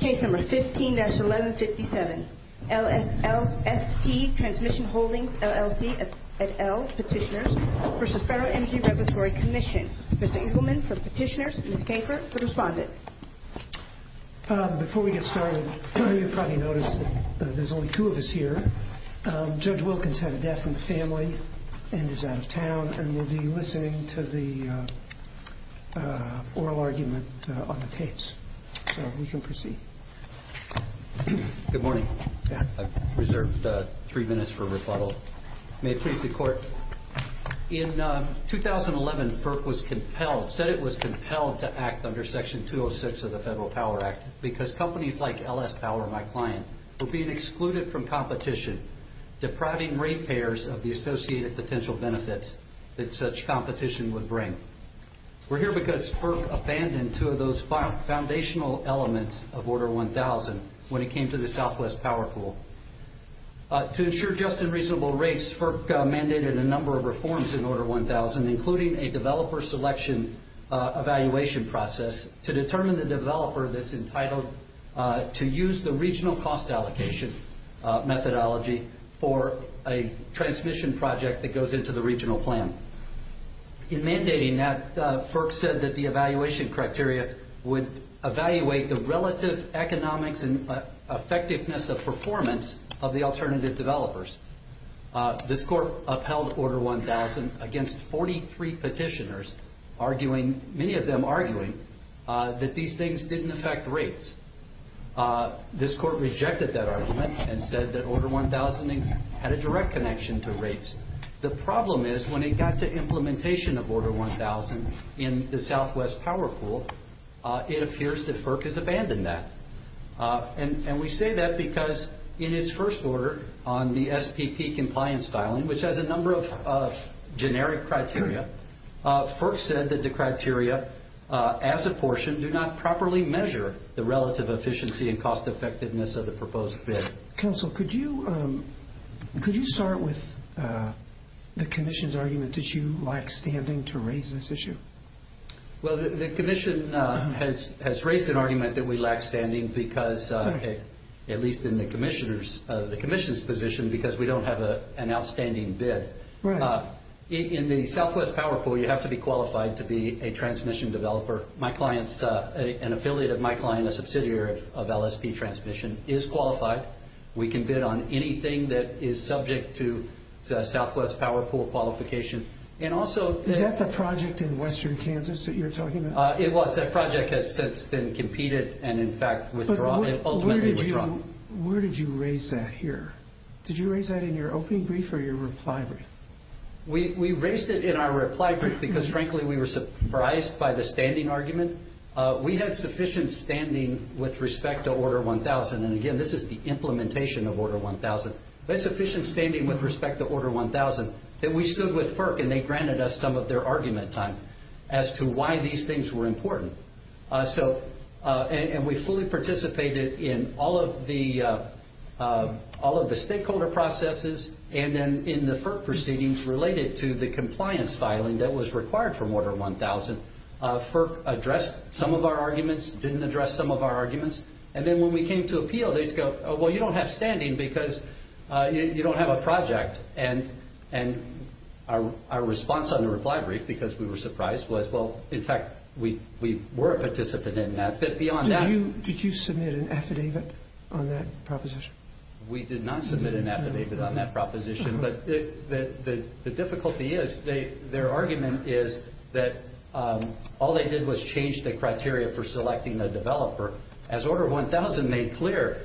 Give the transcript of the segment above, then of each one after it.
Case number 15-1157, LSP Transmission Holdings, LLC et al. Petitioners v. Federal Energy Regulatory Commission. Professor Eagleman for Petitioners, Ms. Kafer for Respondent. Before we get started, you've probably noticed that there's only two of us here. Judge Wilkins had a death in the family and is out of town and will be listening to the oral argument on the tapes. So we can proceed. Good morning. I've reserved three minutes for rebuttal. May it please the Court. In 2011, FERC said it was compelled to act under Section 206 of the Federal Power Act because companies like LS Power, my client, were being excluded from competition, depriving ratepayers of the associated potential benefits that such competition would bring. We're here because FERC abandoned two of those foundational elements of Order 1000 when it came to the Southwest Power Pool. To ensure just and reasonable rates, FERC mandated a number of reforms in Order 1000, including a developer selection evaluation process to determine the developer that's entitled to use the regional cost allocation methodology for a transmission project that goes into the regional plan. In mandating that, FERC said that the evaluation criteria would evaluate the relative economics and effectiveness of performance of the alternative developers. This Court upheld Order 1000 against 43 petitioners, many of them arguing that these things didn't affect rates. This Court rejected that argument and said that Order 1000 had a direct connection to rates. The problem is when it got to implementation of Order 1000 in the Southwest Power Pool, it appears that FERC has abandoned that. We say that because in its first order on the SPP compliance filing, which has a number of generic criteria, FERC said that the criteria as apportioned do not properly measure the relative efficiency and cost effectiveness of the proposed bid. Counsel, could you start with the Commission's argument that you lack standing to raise this issue? Well, the Commission has raised an argument that we lack standing because, at least in the Commission's position, because we don't have an outstanding bid. In the Southwest Power Pool, you have to be qualified to be a transmission developer. An affiliate of my client, a subsidiary of LSP Transmission, is qualified. We can bid on anything that is subject to Southwest Power Pool qualification. Is that the project in western Kansas that you're talking about? It was. That project has since been competed and, in fact, ultimately withdrawn. Where did you raise that here? Did you raise that in your opening brief or your reply brief? We raised it in our reply brief because, frankly, we were surprised by the standing argument. We had sufficient standing with respect to Order 1000. And, again, this is the implementation of Order 1000. We had sufficient standing with respect to Order 1000 that we stood with FERC, and they granted us some of their argument time as to why these things were important. And we fully participated in all of the stakeholder processes and then in the FERC proceedings related to the compliance filing that was required from Order 1000. FERC addressed some of our arguments, didn't address some of our arguments. And then when we came to appeal, they said, well, you don't have standing because you don't have a project. And our response on the reply brief, because we were surprised, was, well, in fact, we were a participant in that. Did you submit an affidavit on that proposition? We did not submit an affidavit on that proposition. But the difficulty is their argument is that all they did was change the criteria for selecting a developer. As Order 1000 made clear,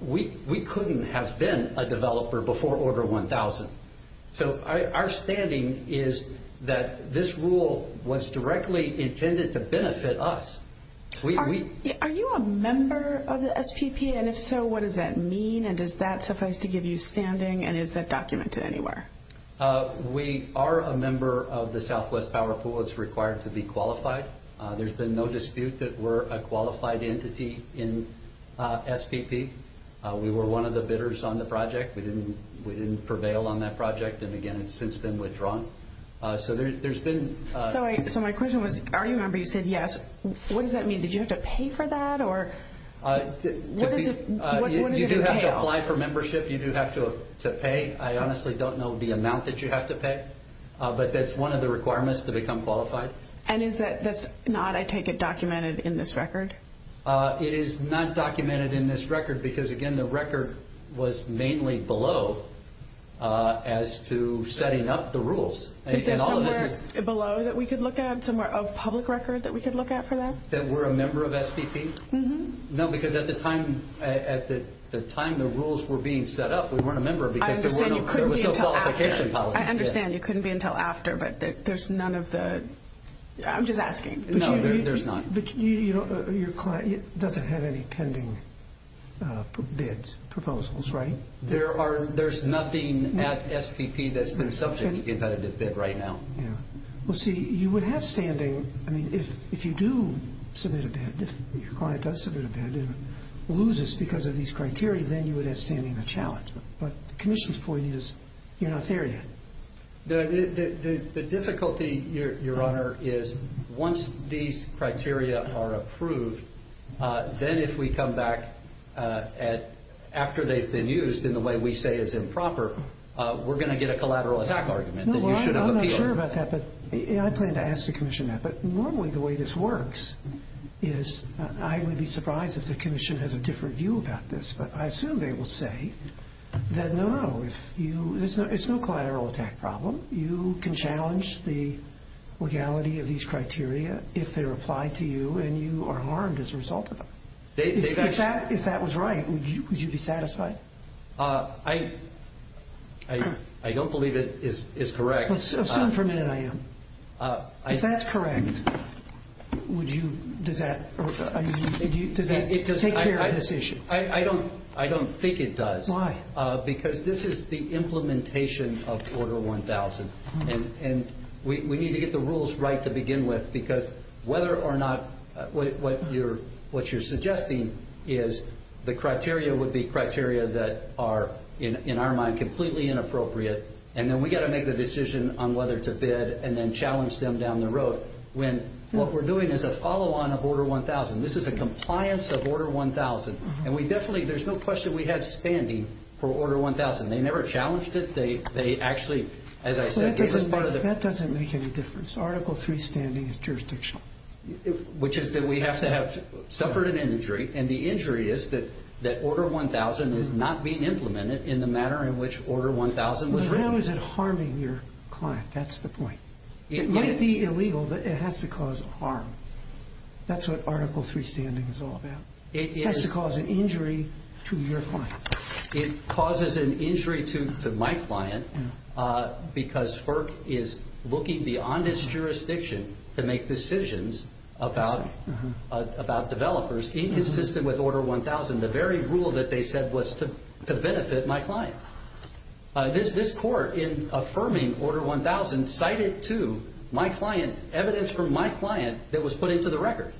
we couldn't have been a developer before Order 1000. So our standing is that this rule was directly intended to benefit us. Are you a member of the SPP? And if so, what does that mean? And does that suffice to give you standing? And is that documented anywhere? We are a member of the Southwest Power Pool. It's required to be qualified. There's been no dispute that we're a qualified entity in SPP. We were one of the bidders on the project. We didn't prevail on that project and, again, it's since been withdrawn. So there's been – So my question was, are you a member? You said yes. What does that mean? Did you have to pay for that? What does it entail? You do have to apply for membership. You do have to pay. I honestly don't know the amount that you have to pay. But that's one of the requirements to become qualified. And is that not, I take it, documented in this record? It is not documented in this record because, again, the record was mainly below as to setting up the rules. Is there somewhere below that we could look at, somewhere of public record that we could look at for that? That we're a member of SPP? No, because at the time the rules were being set up, we weren't a member because there was no qualification policy. I understand. It couldn't be until after, but there's none of the – I'm just asking. No, there's none. But your client doesn't have any pending bid proposals, right? There's nothing at SPP that's been subject to competitive bid right now. Yeah. Well, see, you would have standing – I mean, if you do submit a bid, if your client does submit a bid and loses because of these criteria, then you would have standing of challenge. But the commission's point is you're not there yet. The difficulty, Your Honor, is once these criteria are approved, then if we come back after they've been used in the way we say is improper, we're going to get a collateral attack argument that you should have appealed. No, well, I'm not sure about that, but I plan to ask the commission that. But normally the way this works is I would be surprised if the commission has a different view about this. But I assume they will say that, no, no, it's no collateral attack problem. You can challenge the legality of these criteria if they're applied to you and you are harmed as a result of them. If that was right, would you be satisfied? I don't believe it is correct. Assume for a minute I am. If that's correct, would you – does that – does that take care of this issue? I don't think it does. Why? Because this is the implementation of Order 1000. And we need to get the rules right to begin with because whether or not – what you're suggesting is the criteria would be criteria that are, in our mind, completely inappropriate. And then we've got to make the decision on whether to bid and then challenge them down the road. What we're doing is a follow-on of Order 1000. This is a compliance of Order 1000. And we definitely – there's no question we had standing for Order 1000. They never challenged it. They actually, as I said – That doesn't make any difference. Article III standing is jurisdictional. Which is that we have to have suffered an injury, and the injury is that Order 1000 is not being implemented in the manner in which Order 1000 was written. But how is it harming your client? That's the point. It might be illegal, but it has to cause harm. That's what Article III standing is all about. It has to cause an injury to your client. It causes an injury to my client because FERC is looking beyond its jurisdiction to make decisions about developers. Inconsistent with Order 1000, the very rule that they said was to benefit my client. This court, in affirming Order 1000, cited to my client evidence from my client that was put into the record.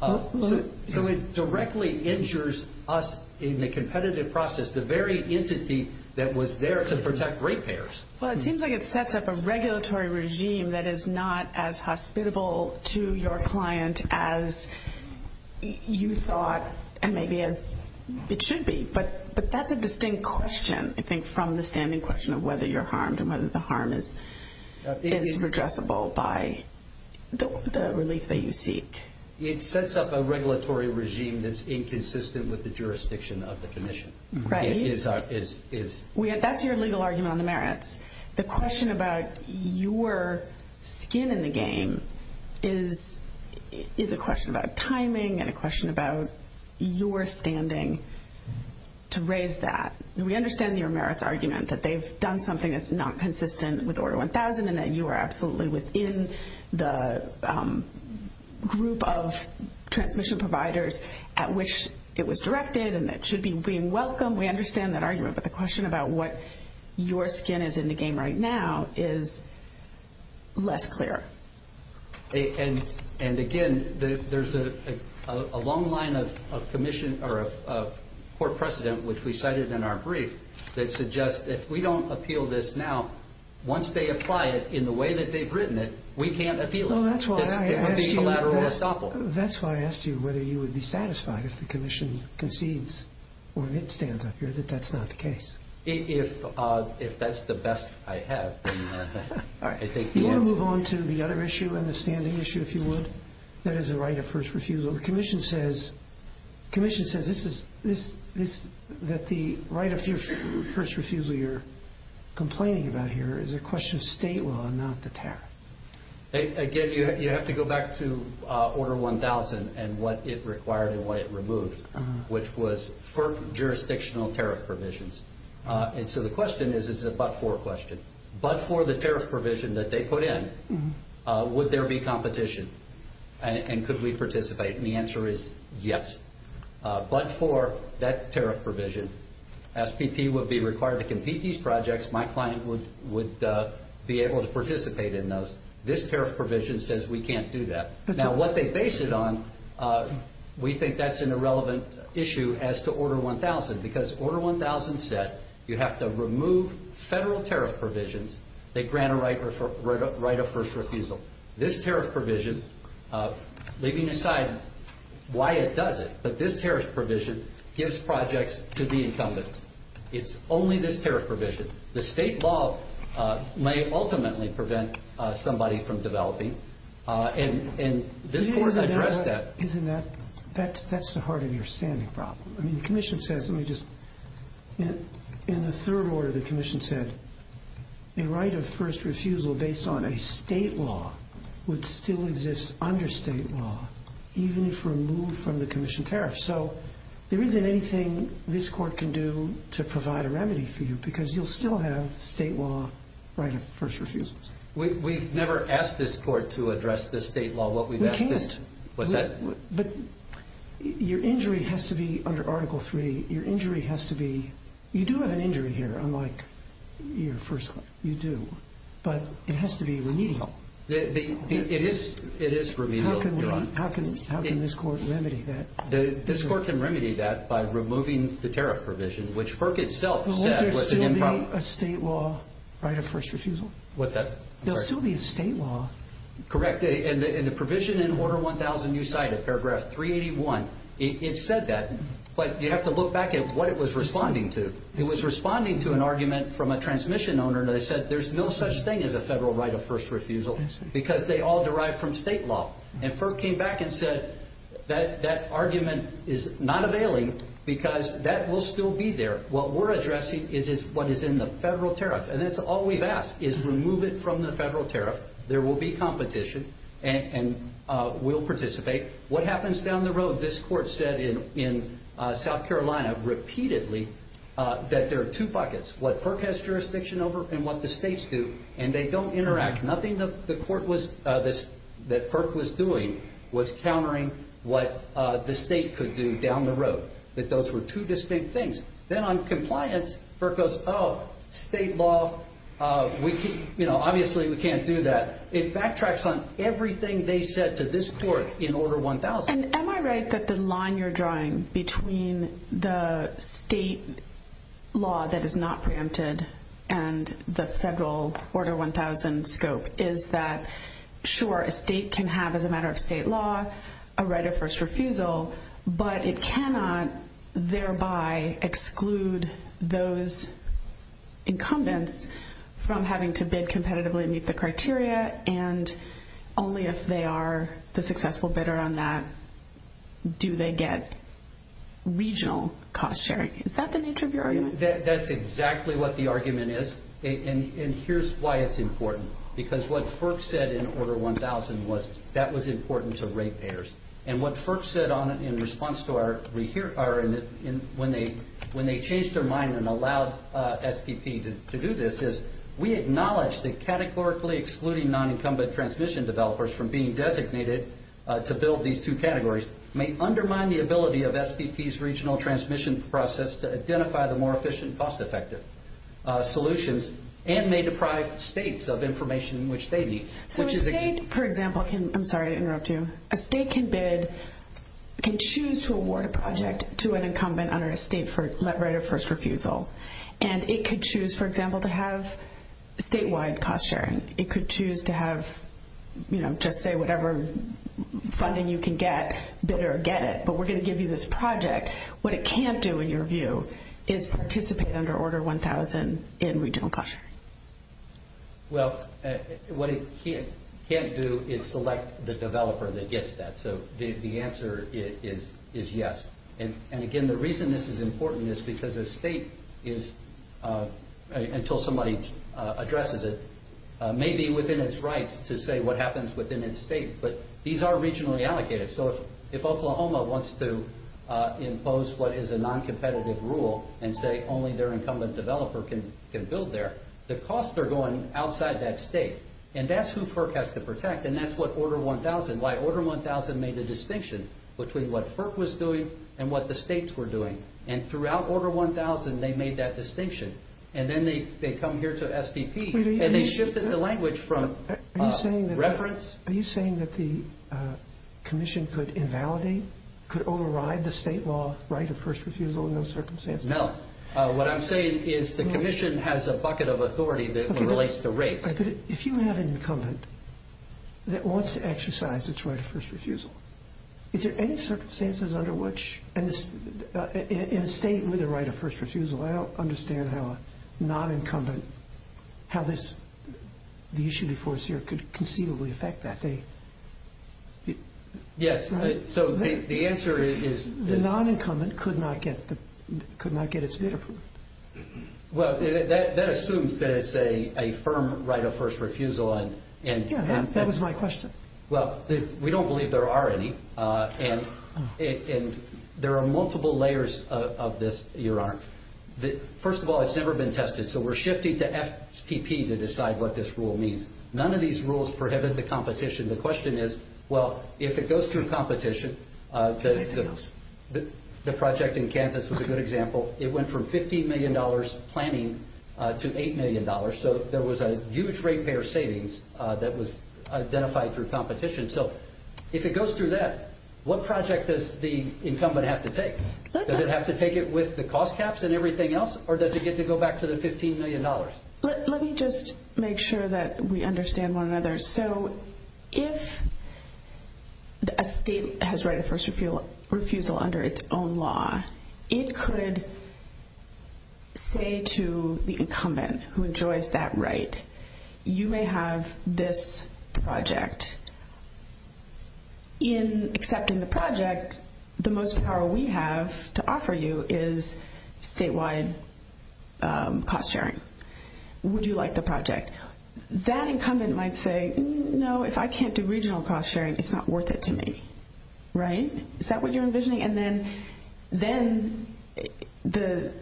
So it directly injures us in the competitive process, the very entity that was there to protect ratepayers. Well, it seems like it sets up a regulatory regime that is not as hospitable to your client as you thought, and maybe as it should be. But that's a distinct question, I think, from the standing question of whether you're harmed and whether the harm is redressable by the relief that you seek. It sets up a regulatory regime that's inconsistent with the jurisdiction of the commission. That's your legal argument on the merits. The question about your skin in the game is a question about timing and a question about your standing to raise that. We understand your merits argument that they've done something that's not consistent with Order 1000 and that you are absolutely within the group of transmission providers at which it was directed and that it should be welcomed. We understand that argument, but the question about what your skin is in the game right now is less clear. And again, there's a long line of court precedent, which we cited in our brief, that suggests that if we don't appeal this now, once they apply it in the way that they've written it, we can't appeal it. It would be a collateral estoppel. That's why I asked you whether you would be satisfied if the commission concedes or if it stands up here that that's not the case. If that's the best I have. Do you want to move on to the other issue and the standing issue, if you would? That is the right of first refusal. The commission says that the right of first refusal you're complaining about here is a question of state law and not the tariff. Again, you have to go back to Order 1000 and what it required and what it removed, which was FERC jurisdictional tariff provisions. And so the question is, is it a but-for question? But for the tariff provision that they put in, would there be competition? And could we participate? And the answer is yes. But for that tariff provision, SPP would be required to compete these projects. My client would be able to participate in those. This tariff provision says we can't do that. Now, what they base it on, we think that's an irrelevant issue as to Order 1000 because Order 1000 said you have to remove federal tariff provisions that grant a right of first refusal. This tariff provision, leaving aside why it does it, but this tariff provision gives projects to the incumbents. It's only this tariff provision. The state law may ultimately prevent somebody from developing. And this board has addressed that. Isn't that the heart of your standing problem? I mean, the commission says, let me just, in the third order the commission said, a right of first refusal based on a state law would still exist under state law, even if removed from the commission tariff. So there isn't anything this court can do to provide a remedy for you because you'll still have state law right of first refusal. We've never asked this court to address the state law. What we've asked is to. What's that? But your injury has to be under Article 3. Your injury has to be. You do have an injury here, unlike your first claim. You do. But it has to be remedial. It is remedial. How can this court remedy that? This court can remedy that by removing the tariff provision, which PERC itself said was improper. Won't there still be a state law right of first refusal? What's that? There'll still be a state law. Correct. And the provision in Order 1000 you cited, Paragraph 381, it said that. But you have to look back at what it was responding to. It was responding to an argument from a transmission owner. They said there's no such thing as a federal right of first refusal because they all derive from state law. And PERC came back and said that that argument is not availing because that will still be there. What we're addressing is what is in the federal tariff. And that's all we've asked is remove it from the federal tariff. There will be competition and we'll participate. What happens down the road? This court said in South Carolina repeatedly that there are two buckets, what PERC has jurisdiction over and what the states do, and they don't interact. Nothing that PERC was doing was countering what the state could do down the road, that those were two distinct things. Then on compliance, PERC goes, oh, state law, obviously we can't do that. It backtracks on everything they said to this court in Order 1000. Am I right that the line you're drawing between the state law that is not preempted and the federal Order 1000 scope is that, sure, a state can have as a matter of state law a right of first refusal, but it cannot thereby exclude those incumbents from having to bid competitively to meet the criteria, and only if they are the successful bidder on that do they get regional cost sharing. Is that the nature of your argument? That's exactly what the argument is, and here's why it's important. Because what PERC said in Order 1000 was that was important to rate payers, and what PERC said in response to when they changed their mind and allowed SPP to do this is we acknowledge that categorically excluding non-incumbent transmission developers from being designated to build these two categories may undermine the ability of SPP's regional transmission process to identify the more efficient cost-effective solutions and may deprive states of information which they need. So a state, for example, can choose to award a project to an incumbent under a state right of first refusal, and it could choose, for example, to have statewide cost sharing. It could choose to have just say whatever funding you can get, bid or get it, but we're going to give you this project. What it can't do, in your view, is participate under Order 1000 in regional cost sharing. Well, what it can't do is select the developer that gets that. So the answer is yes. And again, the reason this is important is because a state is, until somebody addresses it, may be within its rights to say what happens within its state, but these are regionally allocated. So if Oklahoma wants to impose what is a noncompetitive rule and say only their incumbent developer can build there, the costs are going outside that state. And that's who FERC has to protect, and that's what Order 1000, why Order 1000 made the distinction between what FERC was doing and what the states were doing. And throughout Order 1000, they made that distinction. And then they come here to SPP, and they shifted the language from reference. Are you saying that the commission could invalidate, could override the state law right of first refusal in those circumstances? No. What I'm saying is the commission has a bucket of authority that relates to rates. If you have an incumbent that wants to exercise its right of first refusal, is there any circumstances under which, in a state with a right of first refusal, I don't understand how a nonincumbent, how the issue before us here could conceivably affect that? Yes. So the answer is this. The nonincumbent could not get its bid approved. Well, that assumes that it's a firm right of first refusal. Yeah, that was my question. Well, we don't believe there are any. And there are multiple layers of this, Your Honor. First of all, it's never been tested, so we're shifting to FPP to decide what this rule means. None of these rules prohibit the competition. The question is, well, if it goes through competition, the project in Kansas was a good example. It went from $15 million planning to $8 million. So there was a huge ratepayer savings that was identified through competition. So if it goes through that, what project does the incumbent have to take? Does it have to take it with the cost caps and everything else, or does it get to go back to the $15 million? Let me just make sure that we understand one another. So if a state has right of first refusal under its own law, it could say to the incumbent who enjoys that right, you may have this project. In accepting the project, the most power we have to offer you is statewide cost sharing. Would you like the project? That incumbent might say, no, if I can't do regional cost sharing, it's not worth it to me. Right? Is that what you're envisioning? And then the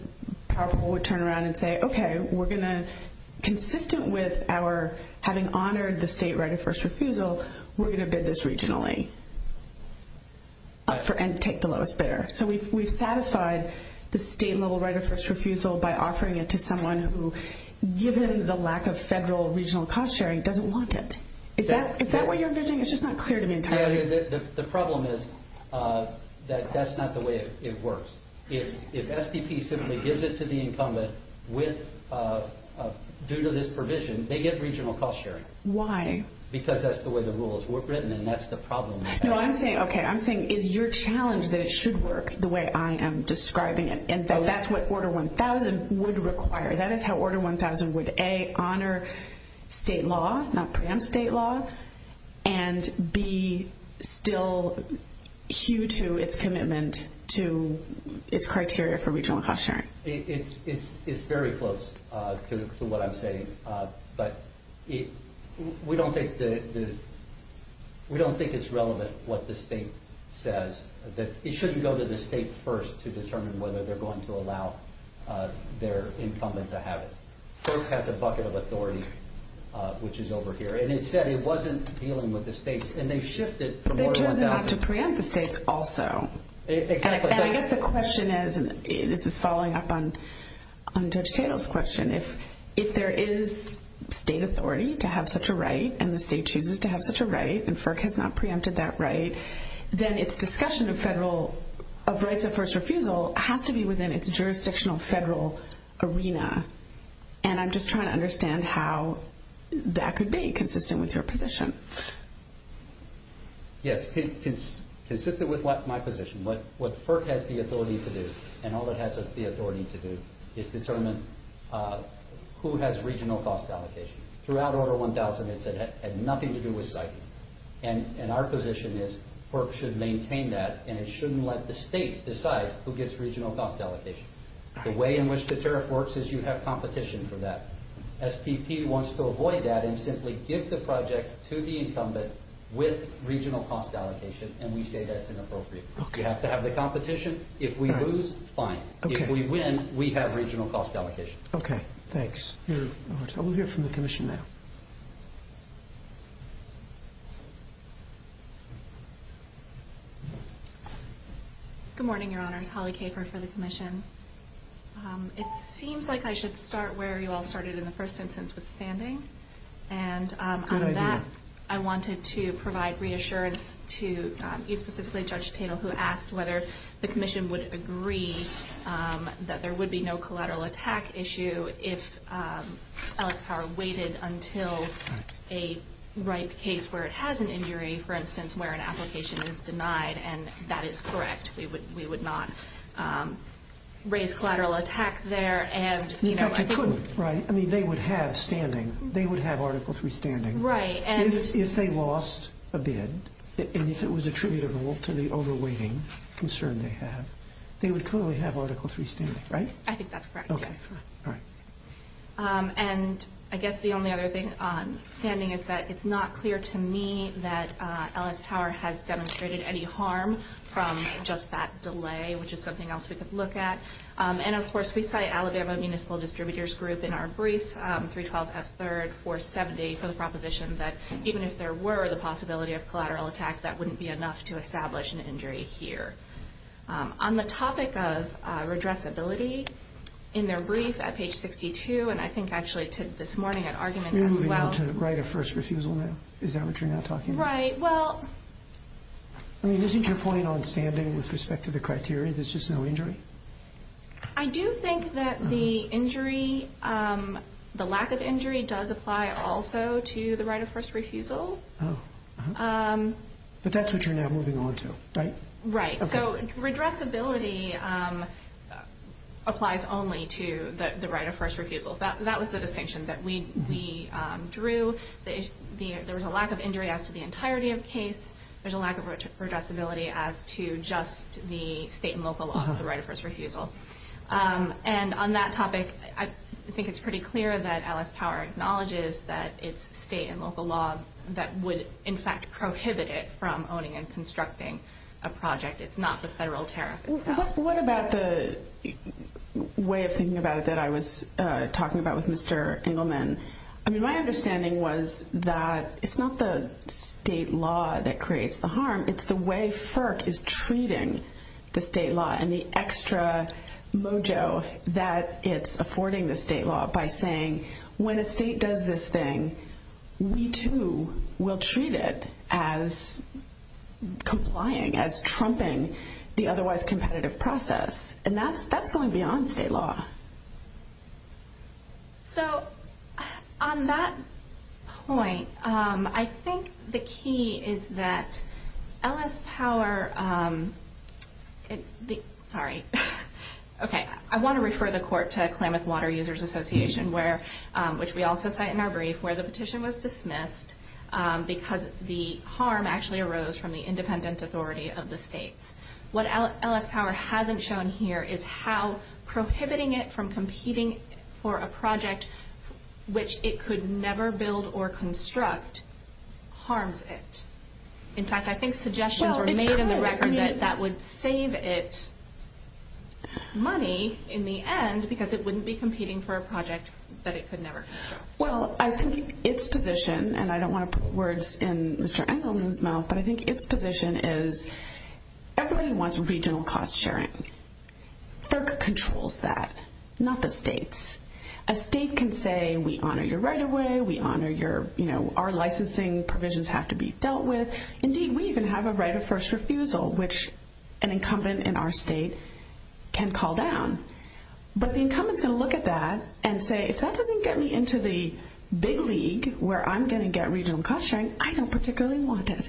probable would turn around and say, okay, consistent with our having honored the state right of first refusal, we're going to bid this regionally and take the lowest bidder. So we've satisfied the state-level right of first refusal by offering it to someone who, given the lack of federal regional cost sharing, doesn't want it. Is that what you're envisioning? It's just not clear to me entirely. The problem is that that's not the way it works. If SPP simply gives it to the incumbent due to this provision, they get regional cost sharing. Why? Because that's the way the rule is written and that's the problem. No, I'm saying, okay, I'm saying is your challenge that it should work the way I am describing it and that that's what Order 1000 would require. That is how Order 1000 would, A, honor state law, not preempt state law, and B, still hew to its commitment to its criteria for regional cost sharing. It's very close to what I'm saying, but we don't think it's relevant what the state says. It shouldn't go to the state first to determine whether they're going to allow their incumbent to have it. FERC has a bucket of authority, which is over here. And it said it wasn't dealing with the states, and they've shifted from Order 1000. They've chosen not to preempt the states also. Exactly. And I guess the question is, and this is following up on Judge Tatel's question, if there is state authority to have such a right and the state chooses to have such a right and FERC has not preempted that right, then its discussion of rights of first refusal has to be within its jurisdictional federal arena. And I'm just trying to understand how that could be consistent with your position. Yes, consistent with my position. What FERC has the authority to do and all it has the authority to do is determine who has regional cost allocation. Throughout Order 1000, it said it had nothing to do with site. And our position is FERC should maintain that and it shouldn't let the state decide who gets regional cost allocation. The way in which the tariff works is you have competition for that. SPP wants to avoid that and simply give the project to the incumbent with regional cost allocation, and we say that's inappropriate. You have to have the competition. If we lose, fine. If we win, we have regional cost allocation. Okay, thanks. I will hear from the commission now. Good morning, Your Honors. Holly Kafer for the commission. It seems like I should start where you all started in the first instance with standing. Good idea. And on that, I wanted to provide reassurance to you specifically, Judge Tatel, who asked whether the commission would agree that there would be no collateral attack issue if Ellis Power waited until a ripe case where it has an injury, for instance, where an application is denied, and that is correct. We would not raise collateral attack there. In fact, I couldn't, right? I mean, they would have standing. They would have Article III standing. Right. If they lost a bid, and if it was attributable to the overweighting concern they have, they would clearly have Article III standing, right? I think that's correct. Okay, all right. And I guess the only other thing on standing is that it's not clear to me that Ellis Power has demonstrated any harm from just that delay, which is something else we could look at. And, of course, we cite Alabama Municipal Distributors Group in our brief, 312F3, 470, for the proposition that even if there were the possibility of collateral attack, that wouldn't be enough to establish an injury here. On the topic of redressability, in their brief at page 62, and I think actually this morning at argument as well. You're moving on to right of first refusal now. Is that what you're now talking about? Right. Well. I mean, isn't your point on standing with respect to the criteria? There's just no injury? I do think that the injury, the lack of injury, does apply also to the right of first refusal. Oh. But that's what you're now moving on to, right? Right. So redressability applies only to the right of first refusal. That was the distinction that we drew. There was a lack of injury as to the entirety of the case. There's a lack of redressability as to just the state and local laws, the right of first refusal. And on that topic, I think it's pretty clear that Ellis Power acknowledges that it's state and local law that would, in fact, prohibit it from owning and constructing a project. It's not the federal tariff itself. What about the way of thinking about it that I was talking about with Mr. Engelman? I mean, my understanding was that it's not the state law that creates the harm. It's the way FERC is treating the state law and the extra mojo that it's affording the state law by saying, when a state does this thing, we, too, will treat it as complying, as trumping the otherwise competitive process. And that's going beyond state law. So on that point, I think the key is that Ellis Power, sorry. Okay, I want to refer the court to Klamath Water Users Association, which we also cite in our brief, where the petition was dismissed because the harm actually arose from the independent authority of the states. What Ellis Power hasn't shown here is how prohibiting it from competing for a project, which it could never build or construct, harms it. In fact, I think suggestions were made in the record that that would save it money in the end because it wouldn't be competing for a project that it could never construct. Well, I think its position, and I don't want to put words in Mr. Engelman's mouth, but I think its position is everybody wants regional cost sharing. FERC controls that, not the states. A state can say, we honor your right of way, we honor your, you know, our licensing provisions have to be dealt with. Indeed, we even have a right of first refusal, which an incumbent in our state can call down. But the incumbent is going to look at that and say, if that doesn't get me into the big league where I'm going to get regional cost sharing, I don't particularly want it.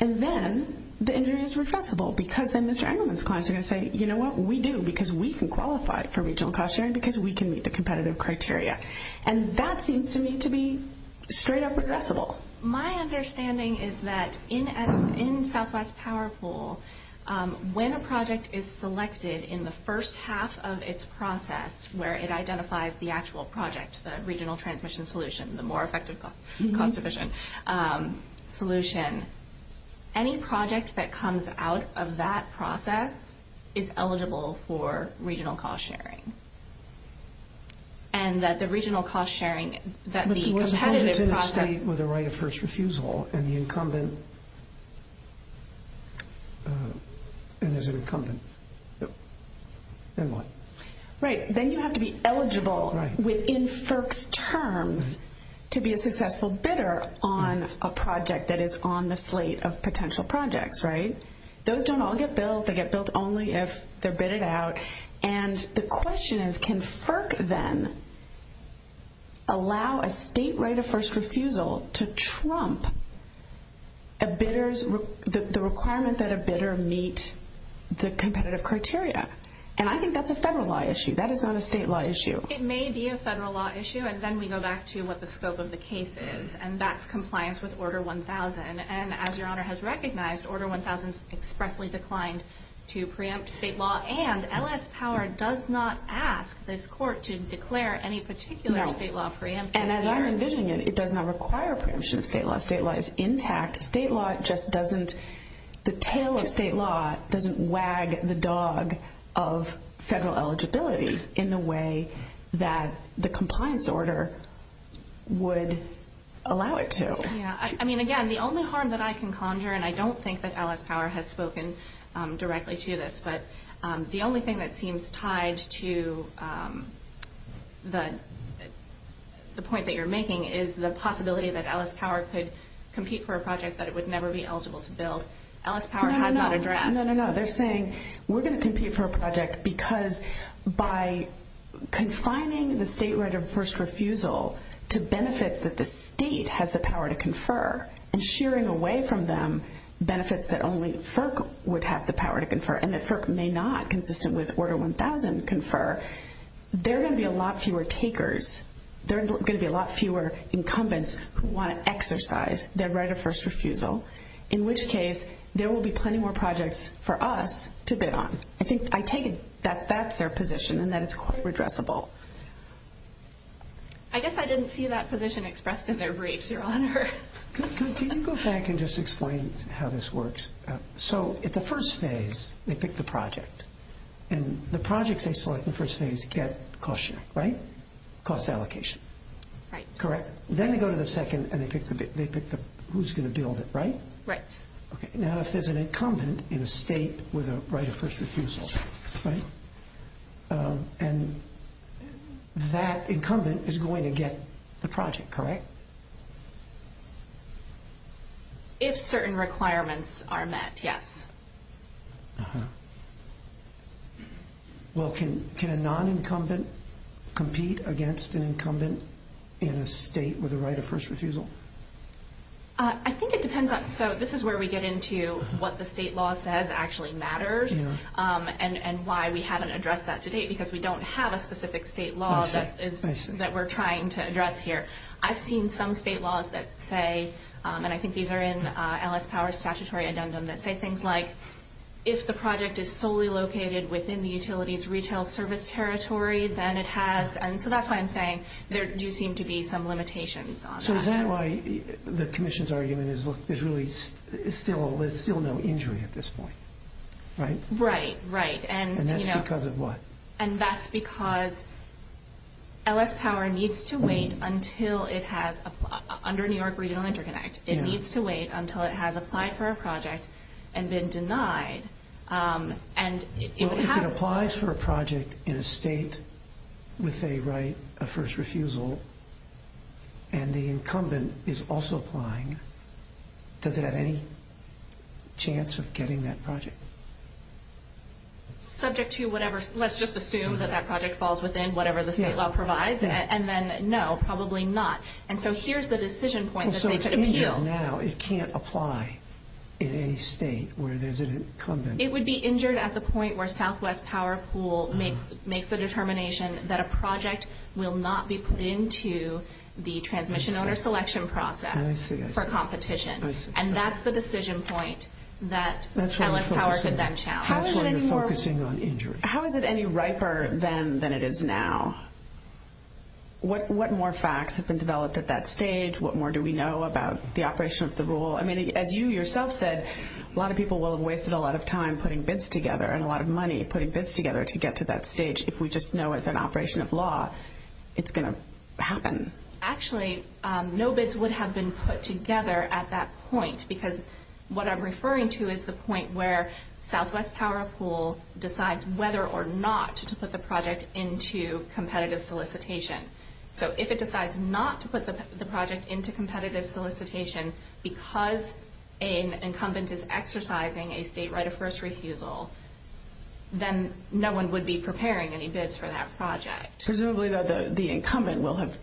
And then the injury is reversible because then Mr. Engelman's clients are going to say, you know what? We do because we can qualify for regional cost sharing because we can meet the competitive criteria. And that seems to me to be straight up addressable. My understanding is that in Southwest Power Pool, when a project is selected in the first half of its process where it identifies the actual project, the regional transmission solution, the more effective cost efficient solution, any project that comes out of that process is eligible for regional cost sharing. And that the regional cost sharing, that the competitive process... But there was an incumbent in the state with a right of first refusal, and the incumbent, and there's an incumbent. Then what? Right. Then you have to be eligible within FERC's terms to be a successful bidder on a project that is on the slate of potential projects, right? Those don't all get billed. They get billed only if they're bidded out. And the question is, can FERC then allow a state right of first refusal to trump a bidder's... the requirement that a bidder meet the competitive criteria? And I think that's a federal law issue. That is not a state law issue. It may be a federal law issue, and then we go back to what the scope of the case is. And that's compliance with Order 1000. And as Your Honor has recognized, Order 1000 expressly declined to preempt state law. And LS Power does not ask this court to declare any particular state law preempt. And as I'm envisioning it, it does not require preemption of state law. State law is intact. State law just doesn't... the tail of state law doesn't wag the dog of federal eligibility in the way that the compliance order would allow it to. Yeah. I mean, again, the only harm that I can conjure, and I don't think that LS Power has spoken directly to this, but the only thing that seems tied to the point that you're making is the possibility that LS Power could compete for a project that it would never be eligible to build. LS Power has not addressed... No, no, no. They're saying we're going to compete for a project because by confining the state right of first refusal to benefits that the state has the power to confer, and shearing away from them benefits that only FERC would have the power to confer and that FERC may not, consistent with Order 1000, confer, there are going to be a lot fewer takers. There are going to be a lot fewer incumbents who want to exercise their right of first refusal, in which case there will be plenty more projects for us to bid on. I think I take it that that's their position and that it's quite redressable. I guess I didn't see that position expressed in their briefs, Your Honor. Can you go back and just explain how this works? At the first phase, they pick the project, and the projects they select in the first phase get cost sharing, right? Cost allocation. Right. Correct? Then they go to the second and they pick who's going to build it, right? Right. Now, if there's an incumbent in a state with a right of first refusal, that incumbent is going to get the project, correct? Correct. If certain requirements are met, yes. Uh-huh. Well, can a non-incumbent compete against an incumbent in a state with a right of first refusal? I think it depends. So this is where we get into what the state law says actually matters and why we haven't addressed that to date, because we don't have a specific state law that we're trying to address here. I've seen some state laws that say, and I think these are in LS Power's statutory addendum, that say things like, if the project is solely located within the utility's retail service territory, then it has. And so that's why I'm saying there do seem to be some limitations on that. So is that why the commission's argument is, look, there's really still no injury at this point, right? Right, right. And that's because of what? Until it has, under New York Regional Interconnect, it needs to wait until it has applied for a project and been denied. If it applies for a project in a state with a right of first refusal and the incumbent is also applying, does it have any chance of getting that project? Subject to whatever, let's just assume that that project falls within whatever the state law provides, and then no, probably not. And so here's the decision point that they could appeal. So if it's injured now, it can't apply in any state where there's an incumbent? It would be injured at the point where Southwest Power Pool makes the determination that a project will not be put into the transmission owner selection process for competition. And that's the decision point that LS Power could then challenge. That's where you're focusing on injury. How is it any riper then than it is now? What more facts have been developed at that stage? What more do we know about the operation of the rule? I mean, as you yourself said, a lot of people will have wasted a lot of time putting bids together and a lot of money putting bids together to get to that stage. If we just know it's an operation of law, it's going to happen. Actually, no bids would have been put together at that point because what I'm referring to is the point where Southwest Power Pool decides whether or not to put the project into competitive solicitation. So if it decides not to put the project into competitive solicitation because an incumbent is exercising a state right of first refusal, then no one would be preparing any bids for that project. Presumably the incumbent will have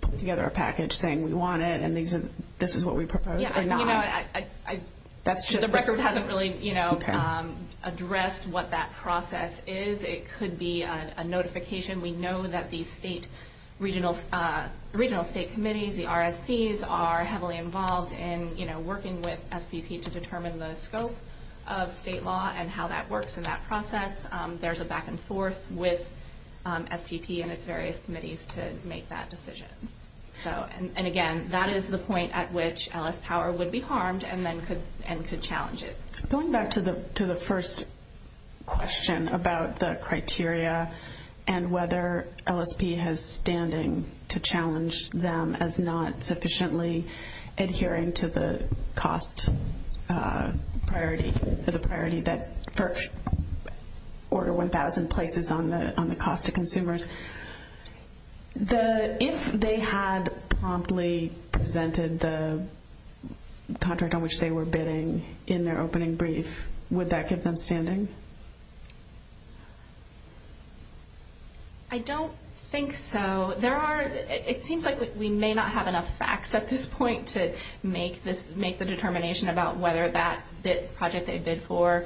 put together a package saying we want it and this is what we propose or not. The record hasn't really addressed what that process is. It could be a notification. We know that the regional state committees, the RSCs, are heavily involved in working with SPP to determine the scope of state law and how that works in that process. There's a back and forth with SPP and its various committees to make that decision. Again, that is the point at which LS Power would be harmed and could challenge it. Going back to the first question about the criteria and whether LSP has standing to challenge them as not sufficiently adhering to the cost priority, the priority that Order 1000 places on the cost to consumers, if they had promptly presented the contract on which they were bidding in their opening brief, would that keep them standing? I don't think so. It seems like we may not have enough facts at this point to make the determination about whether that project they bid for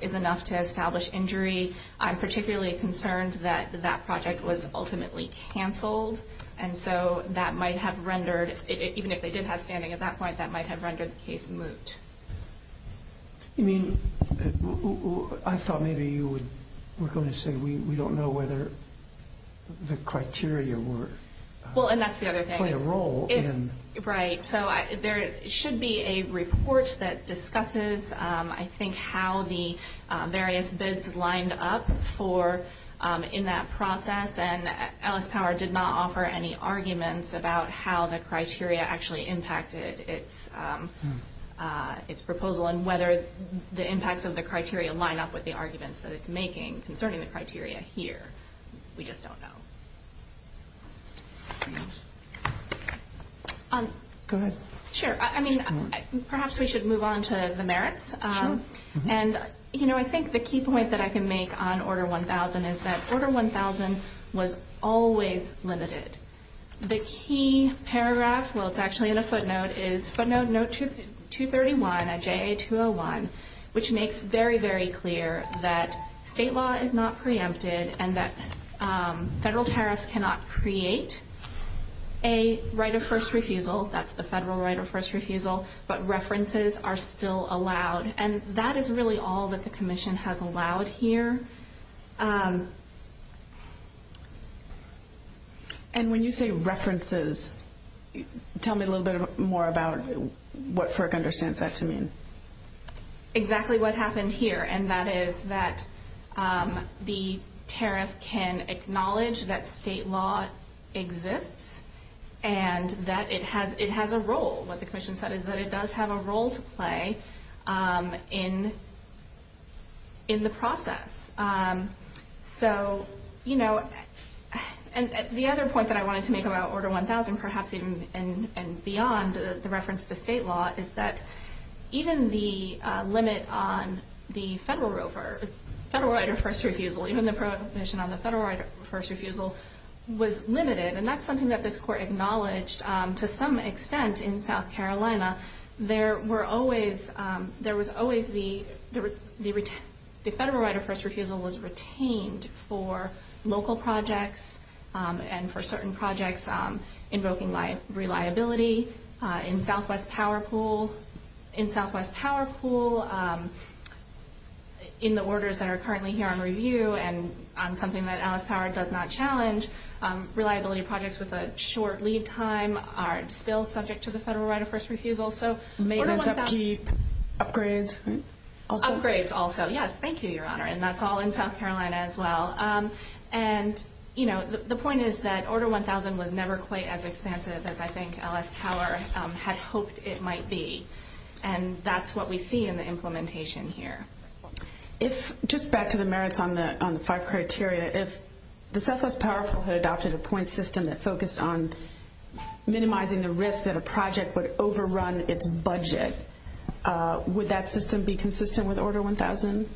is enough to establish injury. I'm particularly concerned that that project was ultimately canceled. And so that might have rendered, even if they did have standing at that point, that might have rendered the case moot. I thought maybe you were going to say we don't know whether the criteria play a role. Well, and that's the other thing. Right. So there should be a report that discusses, I think, how the various bids lined up in that process. And LS Power did not offer any arguments about how the criteria actually impacted its proposal and whether the impacts of the criteria line up with the arguments that it's making concerning the criteria here. We just don't know. Go ahead. Sure. I mean, perhaps we should move on to the merits. Sure. And, you know, I think the key point that I can make on Order 1000 is that Order 1000 was always limited. The key paragraph, well, it's actually in a footnote, is footnote 231 of JA201, which makes very, very clear that state law is not preempted and that federal tariffs cannot create a right of first refusal. That's the federal right of first refusal, but references are still allowed. And that is really all that the Commission has allowed here. And when you say references, tell me a little bit more about what FERC understands that to mean. Exactly what happened here, and that is that the tariff can acknowledge that state law exists and that it has a role, what the Commission said, is that it does have a role to play in the process. So, you know, the other point that I wanted to make about Order 1000, and perhaps even beyond the reference to state law, is that even the limit on the federal right of first refusal, even the provision on the federal right of first refusal, was limited. And that's something that this Court acknowledged to some extent in South Carolina. There was always the federal right of first refusal was retained for local projects and for certain projects invoking reliability. In Southwest Power Pool, in the orders that are currently here on review and on something that Alice Power does not challenge, reliability projects with a short lead time are still subject to the federal right of first refusal. Maintenance, upkeep, upgrades also? Upgrades also, yes. Thank you, Your Honor. And that's all in South Carolina as well. And, you know, the point is that Order 1000 was never quite as expansive as I think Alice Power had hoped it might be. And that's what we see in the implementation here. If, just back to the merits on the five criteria, if the Southwest Power Pool had adopted a point system that focused on minimizing the risk that a project would overrun its budget, would that system be consistent with Order 1000?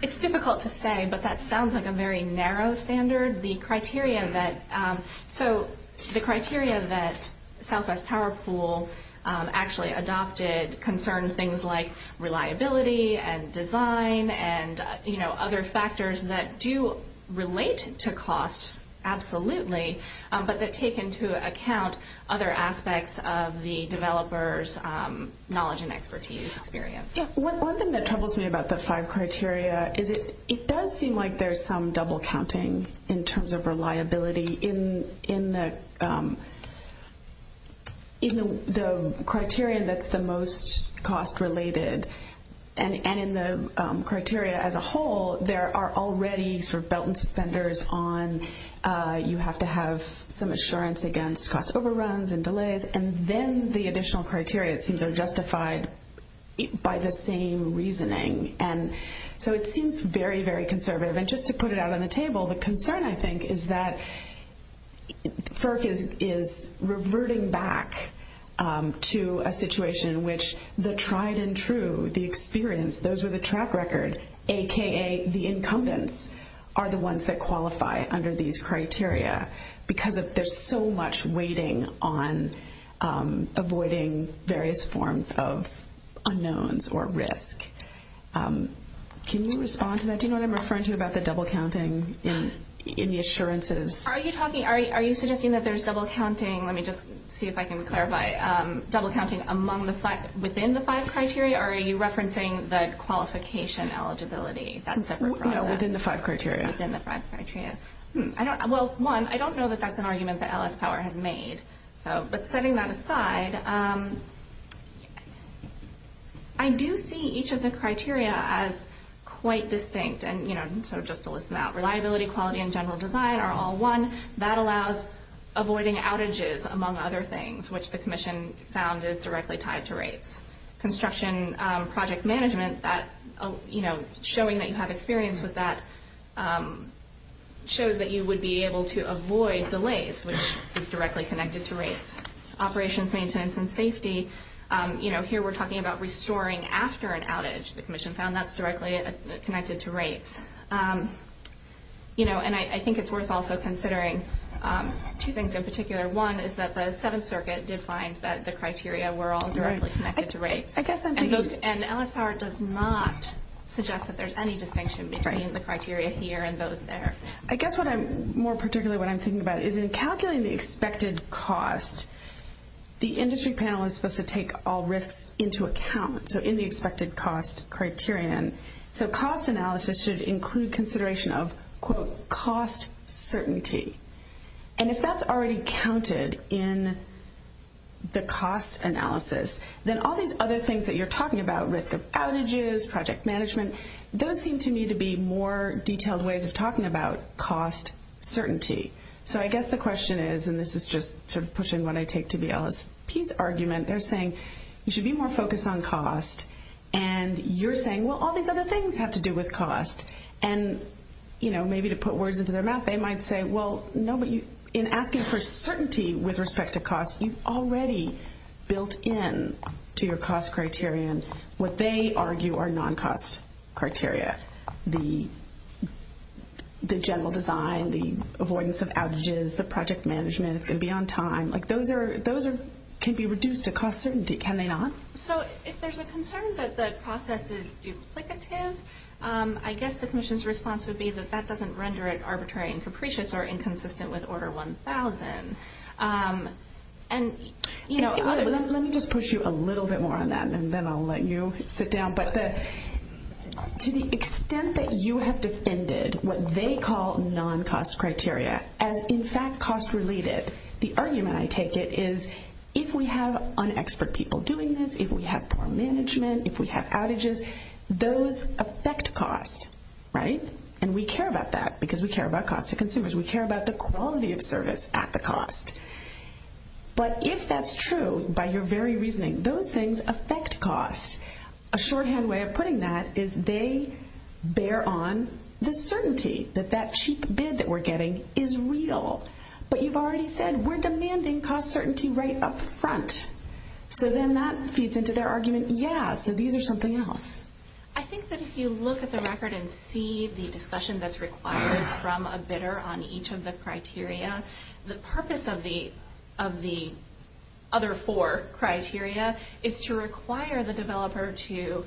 It's difficult to say, but that sounds like a very narrow standard. The criteria that Southwest Power Pool actually adopted concerned things like reliability and design and, you know, other factors that do relate to cost, absolutely, but that take into account other aspects of the developer's knowledge and expertise experience. One thing that troubles me about the five criteria is it does seem like there's some double counting in terms of reliability in the criteria that's the most cost-related. And in the criteria as a whole, there are already sort of belt and suspenders on and you have to have some assurance against cost overruns and delays. And then the additional criteria, it seems, are justified by the same reasoning. And so it seems very, very conservative. And just to put it out on the table, the concern, I think, is that FERC is reverting back to a situation in which the tried and true, the experience, those with a track record, a.k.a. the incumbents, are the ones that qualify under these criteria because there's so much waiting on avoiding various forms of unknowns or risk. Can you respond to that? Do you know what I'm referring to about the double counting in the assurances? Are you suggesting that there's double counting, let me just see if I can clarify, double counting within the five criteria? Or are you referencing the qualification eligibility, that separate process? Within the five criteria. Within the five criteria. Well, one, I don't know that that's an argument that LS Power has made. But setting that aside, I do see each of the criteria as quite distinct. And so just to list them out, reliability, quality, and general design are all one. That allows avoiding outages, among other things, which the commission found is directly tied to rates. Construction project management, showing that you have experience with that, shows that you would be able to avoid delays, which is directly connected to rates. Operations, maintenance, and safety, here we're talking about restoring after an outage. The commission found that's directly connected to rates. And I think it's worth also considering two things in particular. One is that the Seventh Circuit did find that the criteria were all directly connected to rates. And LS Power does not suggest that there's any distinction between the criteria here and those there. I guess more particularly what I'm thinking about is in calculating the expected cost, the industry panel is supposed to take all risks into account, so in the expected cost criterion. So cost analysis should include consideration of, quote, cost certainty. And if that's already counted in the cost analysis, then all these other things that you're talking about, risk of outages, project management, those seem to me to be more detailed ways of talking about cost certainty. So I guess the question is, and this is just sort of pushing what I take to be LSP's argument, they're saying you should be more focused on cost. And you're saying, well, all these other things have to do with cost. And, you know, maybe to put words into their mouth, they might say, well, no, but in asking for certainty with respect to cost, you've already built in to your cost criterion what they argue are non-cost criteria. The general design, the avoidance of outages, the project management, it's going to be on time. Those can be reduced to cost certainty, can they not? So if there's a concern that the process is duplicative, I guess the commission's response would be that that doesn't render it arbitrary and capricious or inconsistent with Order 1000. Let me just push you a little bit more on that, and then I'll let you sit down. But to the extent that you have defended what they call non-cost criteria as, in fact, cost-related, the argument I take it is if we have unexpert people doing this, if we have poor management, if we have outages, those affect cost, right? And we care about that because we care about cost to consumers. We care about the quality of service at the cost. But if that's true, by your very reasoning, those things affect cost. A shorthand way of putting that is they bear on the certainty that that cheap bid that we're getting is real. But you've already said we're demanding cost certainty right up front. So then that feeds into their argument, yeah, so these are something else. I think that if you look at the record and see the discussion that's required from a bidder on each of the criteria, the purpose of the other four criteria is to require the developer to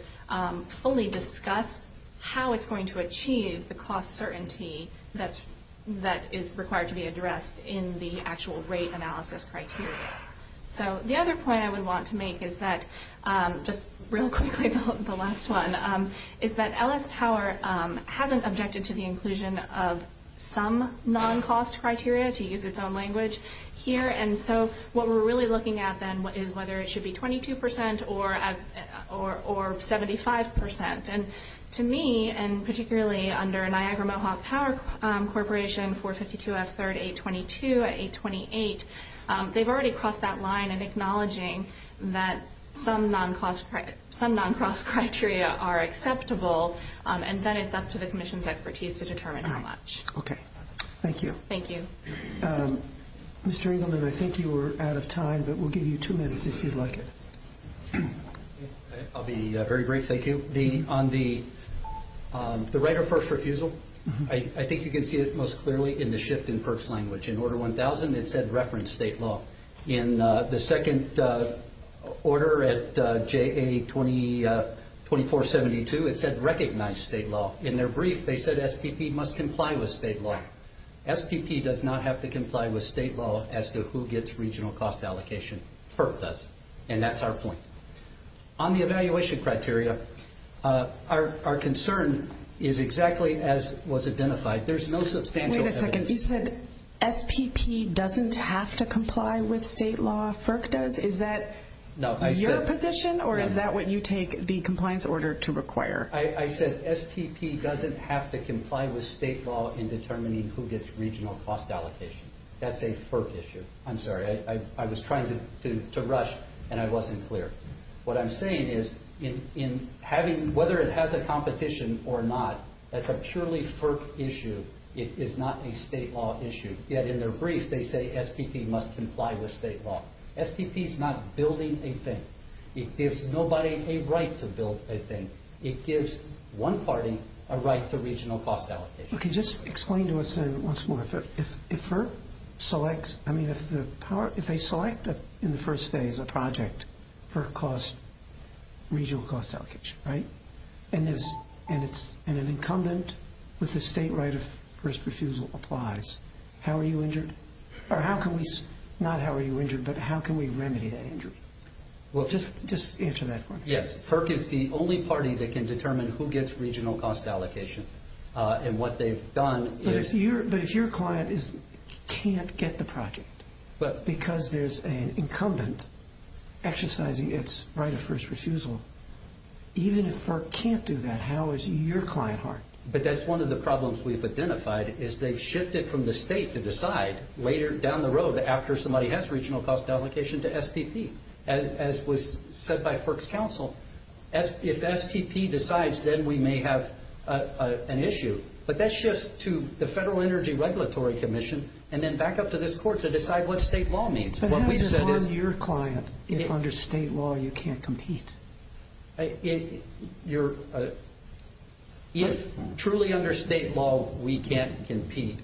fully discuss how it's going to achieve the cost certainty that is required to be addressed in the actual rate analysis criteria. So the other point I would want to make is that, just real quickly, the last one, is that LS Power hasn't objected to the inclusion of some non-cost criteria, to use its own language, here. And so what we're really looking at then is whether it should be 22% or 75%. And to me, and particularly under Niagara Mohawk Power Corporation, 452 F3rd 822 at 828, they've already crossed that line in acknowledging that some non-cost criteria are acceptable, and then it's up to the Commission's expertise to determine how much. Okay. Thank you. Thank you. Mr. Engelman, I think you are out of time, but we'll give you two minutes if you'd like it. I'll be very brief, thank you. On the right of first refusal, I think you can see it most clearly in the shift in FERC's language. In Order 1000, it said reference state law. In the second order at JA 2472, it said recognize state law. In their brief, they said SPP must comply with state law. SPP does not have to comply with state law as to who gets regional cost allocation. FERC does, and that's our point. On the evaluation criteria, our concern is exactly as was identified. There's no substantial evidence. Wait a second. You said SPP doesn't have to comply with state law, FERC does? Is that your position, or is that what you take the compliance order to require? I said SPP doesn't have to comply with state law in determining who gets regional cost allocation. That's a FERC issue. I'm sorry. I was trying to rush, and I wasn't clear. What I'm saying is, whether it has a competition or not, that's a purely FERC issue. It is not a state law issue. Yet in their brief, they say SPP must comply with state law. SPP is not building a thing. It gives nobody a right to build a thing. It gives one party a right to regional cost allocation. Okay, just explain to us once more. If FERC selects in the first phase a project for regional cost allocation, and an incumbent with the state right of first refusal applies, how are you injured? Not how are you injured, but how can we remedy that injury? Just answer that for me. Yes, FERC is the only party that can determine who gets regional cost allocation. What they've done is— But if your client can't get the project because there's an incumbent exercising its right of first refusal, even if FERC can't do that, how is your client harmed? That's one of the problems we've identified, is they've shifted from the state to decide later down the road after somebody has regional cost allocation to SPP. As was said by FERC's counsel, if SPP decides, then we may have an issue. But that shifts to the Federal Energy Regulatory Commission, and then back up to this court to decide what state law means. But how do you harm your client if under state law you can't compete? If truly under state law we can't compete,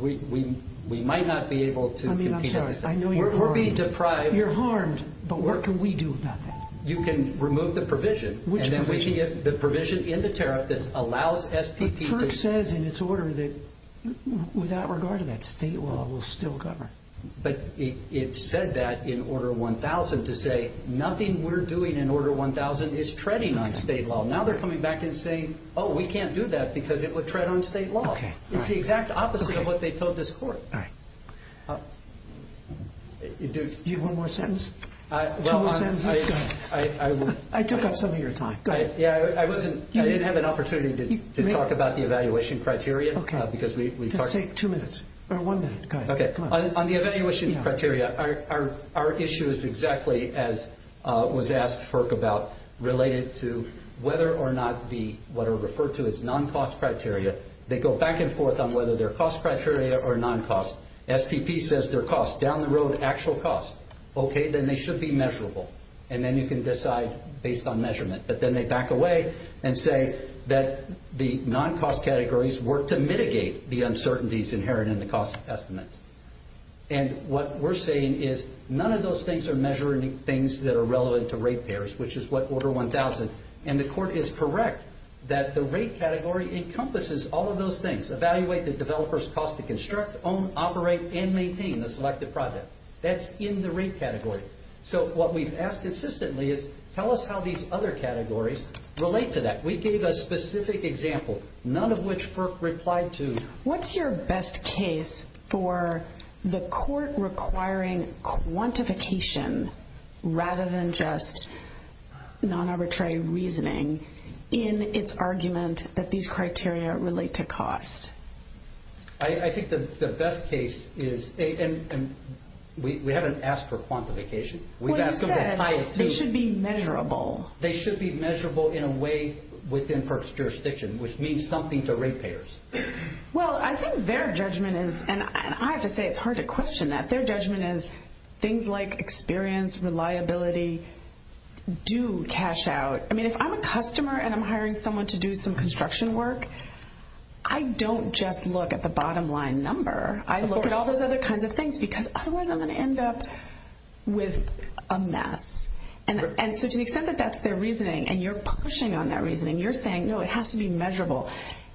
we might not be able to compete. We're being deprived— You're harmed, but what can we do about that? You can remove the provision, and then we can get the provision in the tariff that allows SPP to— But FERC says in its order that without regard to that, state law will still govern. But it said that in Order 1000 to say nothing we're doing in Order 1000 is treading on state law. Now they're coming back and saying, oh, we can't do that because it would tread on state law. It's the exact opposite of what they told this court. All right. Do you have one more sentence? Two more sentences? Go ahead. I took up some of your time. Go ahead. Yeah, I didn't have an opportunity to talk about the evaluation criteria because we— Just take two minutes, or one minute. Go ahead. On the evaluation criteria, our issue is exactly as was asked FERC about, related to whether or not what are referred to as non-cost criteria. They go back and forth on whether they're cost criteria or non-cost. SPP says they're cost. Down the road, actual cost. Okay, then they should be measurable. And then you can decide based on measurement. But then they back away and say that the non-cost categories work to mitigate the uncertainties inherent in the cost estimates. And what we're saying is none of those things are measuring things that are relevant to rate payers, which is what Order 1000. And the court is correct that the rate category encompasses all of those things, evaluate the developer's cost to construct, own, operate, and maintain a selected project. That's in the rate category. So what we've asked consistently is tell us how these other categories relate to that. We gave a specific example, none of which FERC replied to. What's your best case for the court requiring quantification rather than just non-arbitrary reasoning in its argument that these criteria relate to cost? I think the best case is we haven't asked for quantification. What you said, they should be measurable. They should be measurable in a way within FERC's jurisdiction, which means something to rate payers. Well, I think their judgment is, and I have to say it's hard to question that, their judgment is things like experience, reliability do cash out. I mean, if I'm a customer and I'm hiring someone to do some construction work, I don't just look at the bottom line number. I look at all those other kinds of things because otherwise I'm going to end up with a mess. And so to the extent that that's their reasoning and you're pushing on that reasoning, you're saying, no, it has to be measurable.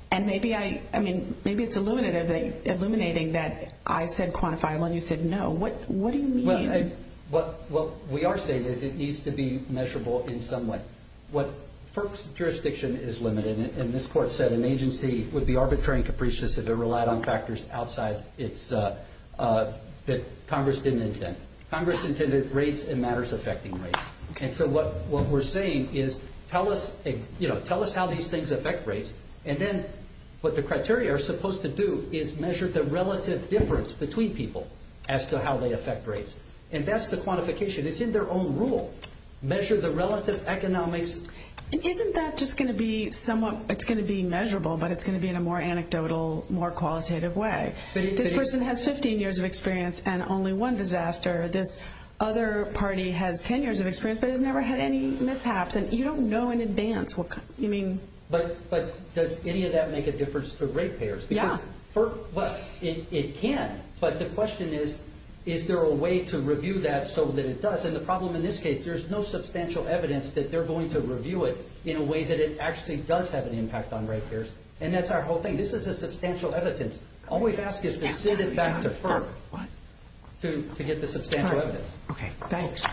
And maybe it's illuminating that I said quantifiable and you said no. What do you mean? What we are saying is it needs to be measurable in some way. What FERC's jurisdiction is limited in, and this court said an agency would be arbitrary and capricious if it relied on factors outside that Congress didn't intend. Congress intended rates and matters affecting rates. And so what we're saying is tell us how these things affect rates, and then what the criteria are supposed to do is measure the relative difference between people as to how they affect rates. And that's the quantification. It's in their own rule. Measure the relative economics. Isn't that just going to be somewhat, it's going to be measurable, but it's going to be in a more anecdotal, more qualitative way? This person has 15 years of experience and only one disaster. This other party has 10 years of experience but has never had any mishaps. And you don't know in advance what kind of, you mean. But does any of that make a difference to rate payers? Yeah. It can, but the question is, is there a way to review that so that it does? And the problem in this case, there's no substantial evidence that they're going to review it in a way that it actually does have an impact on rate payers. And that's our whole thing. This is a substantial evidence. All we've asked is to send it back to FERC to get the substantial evidence. Okay, thanks.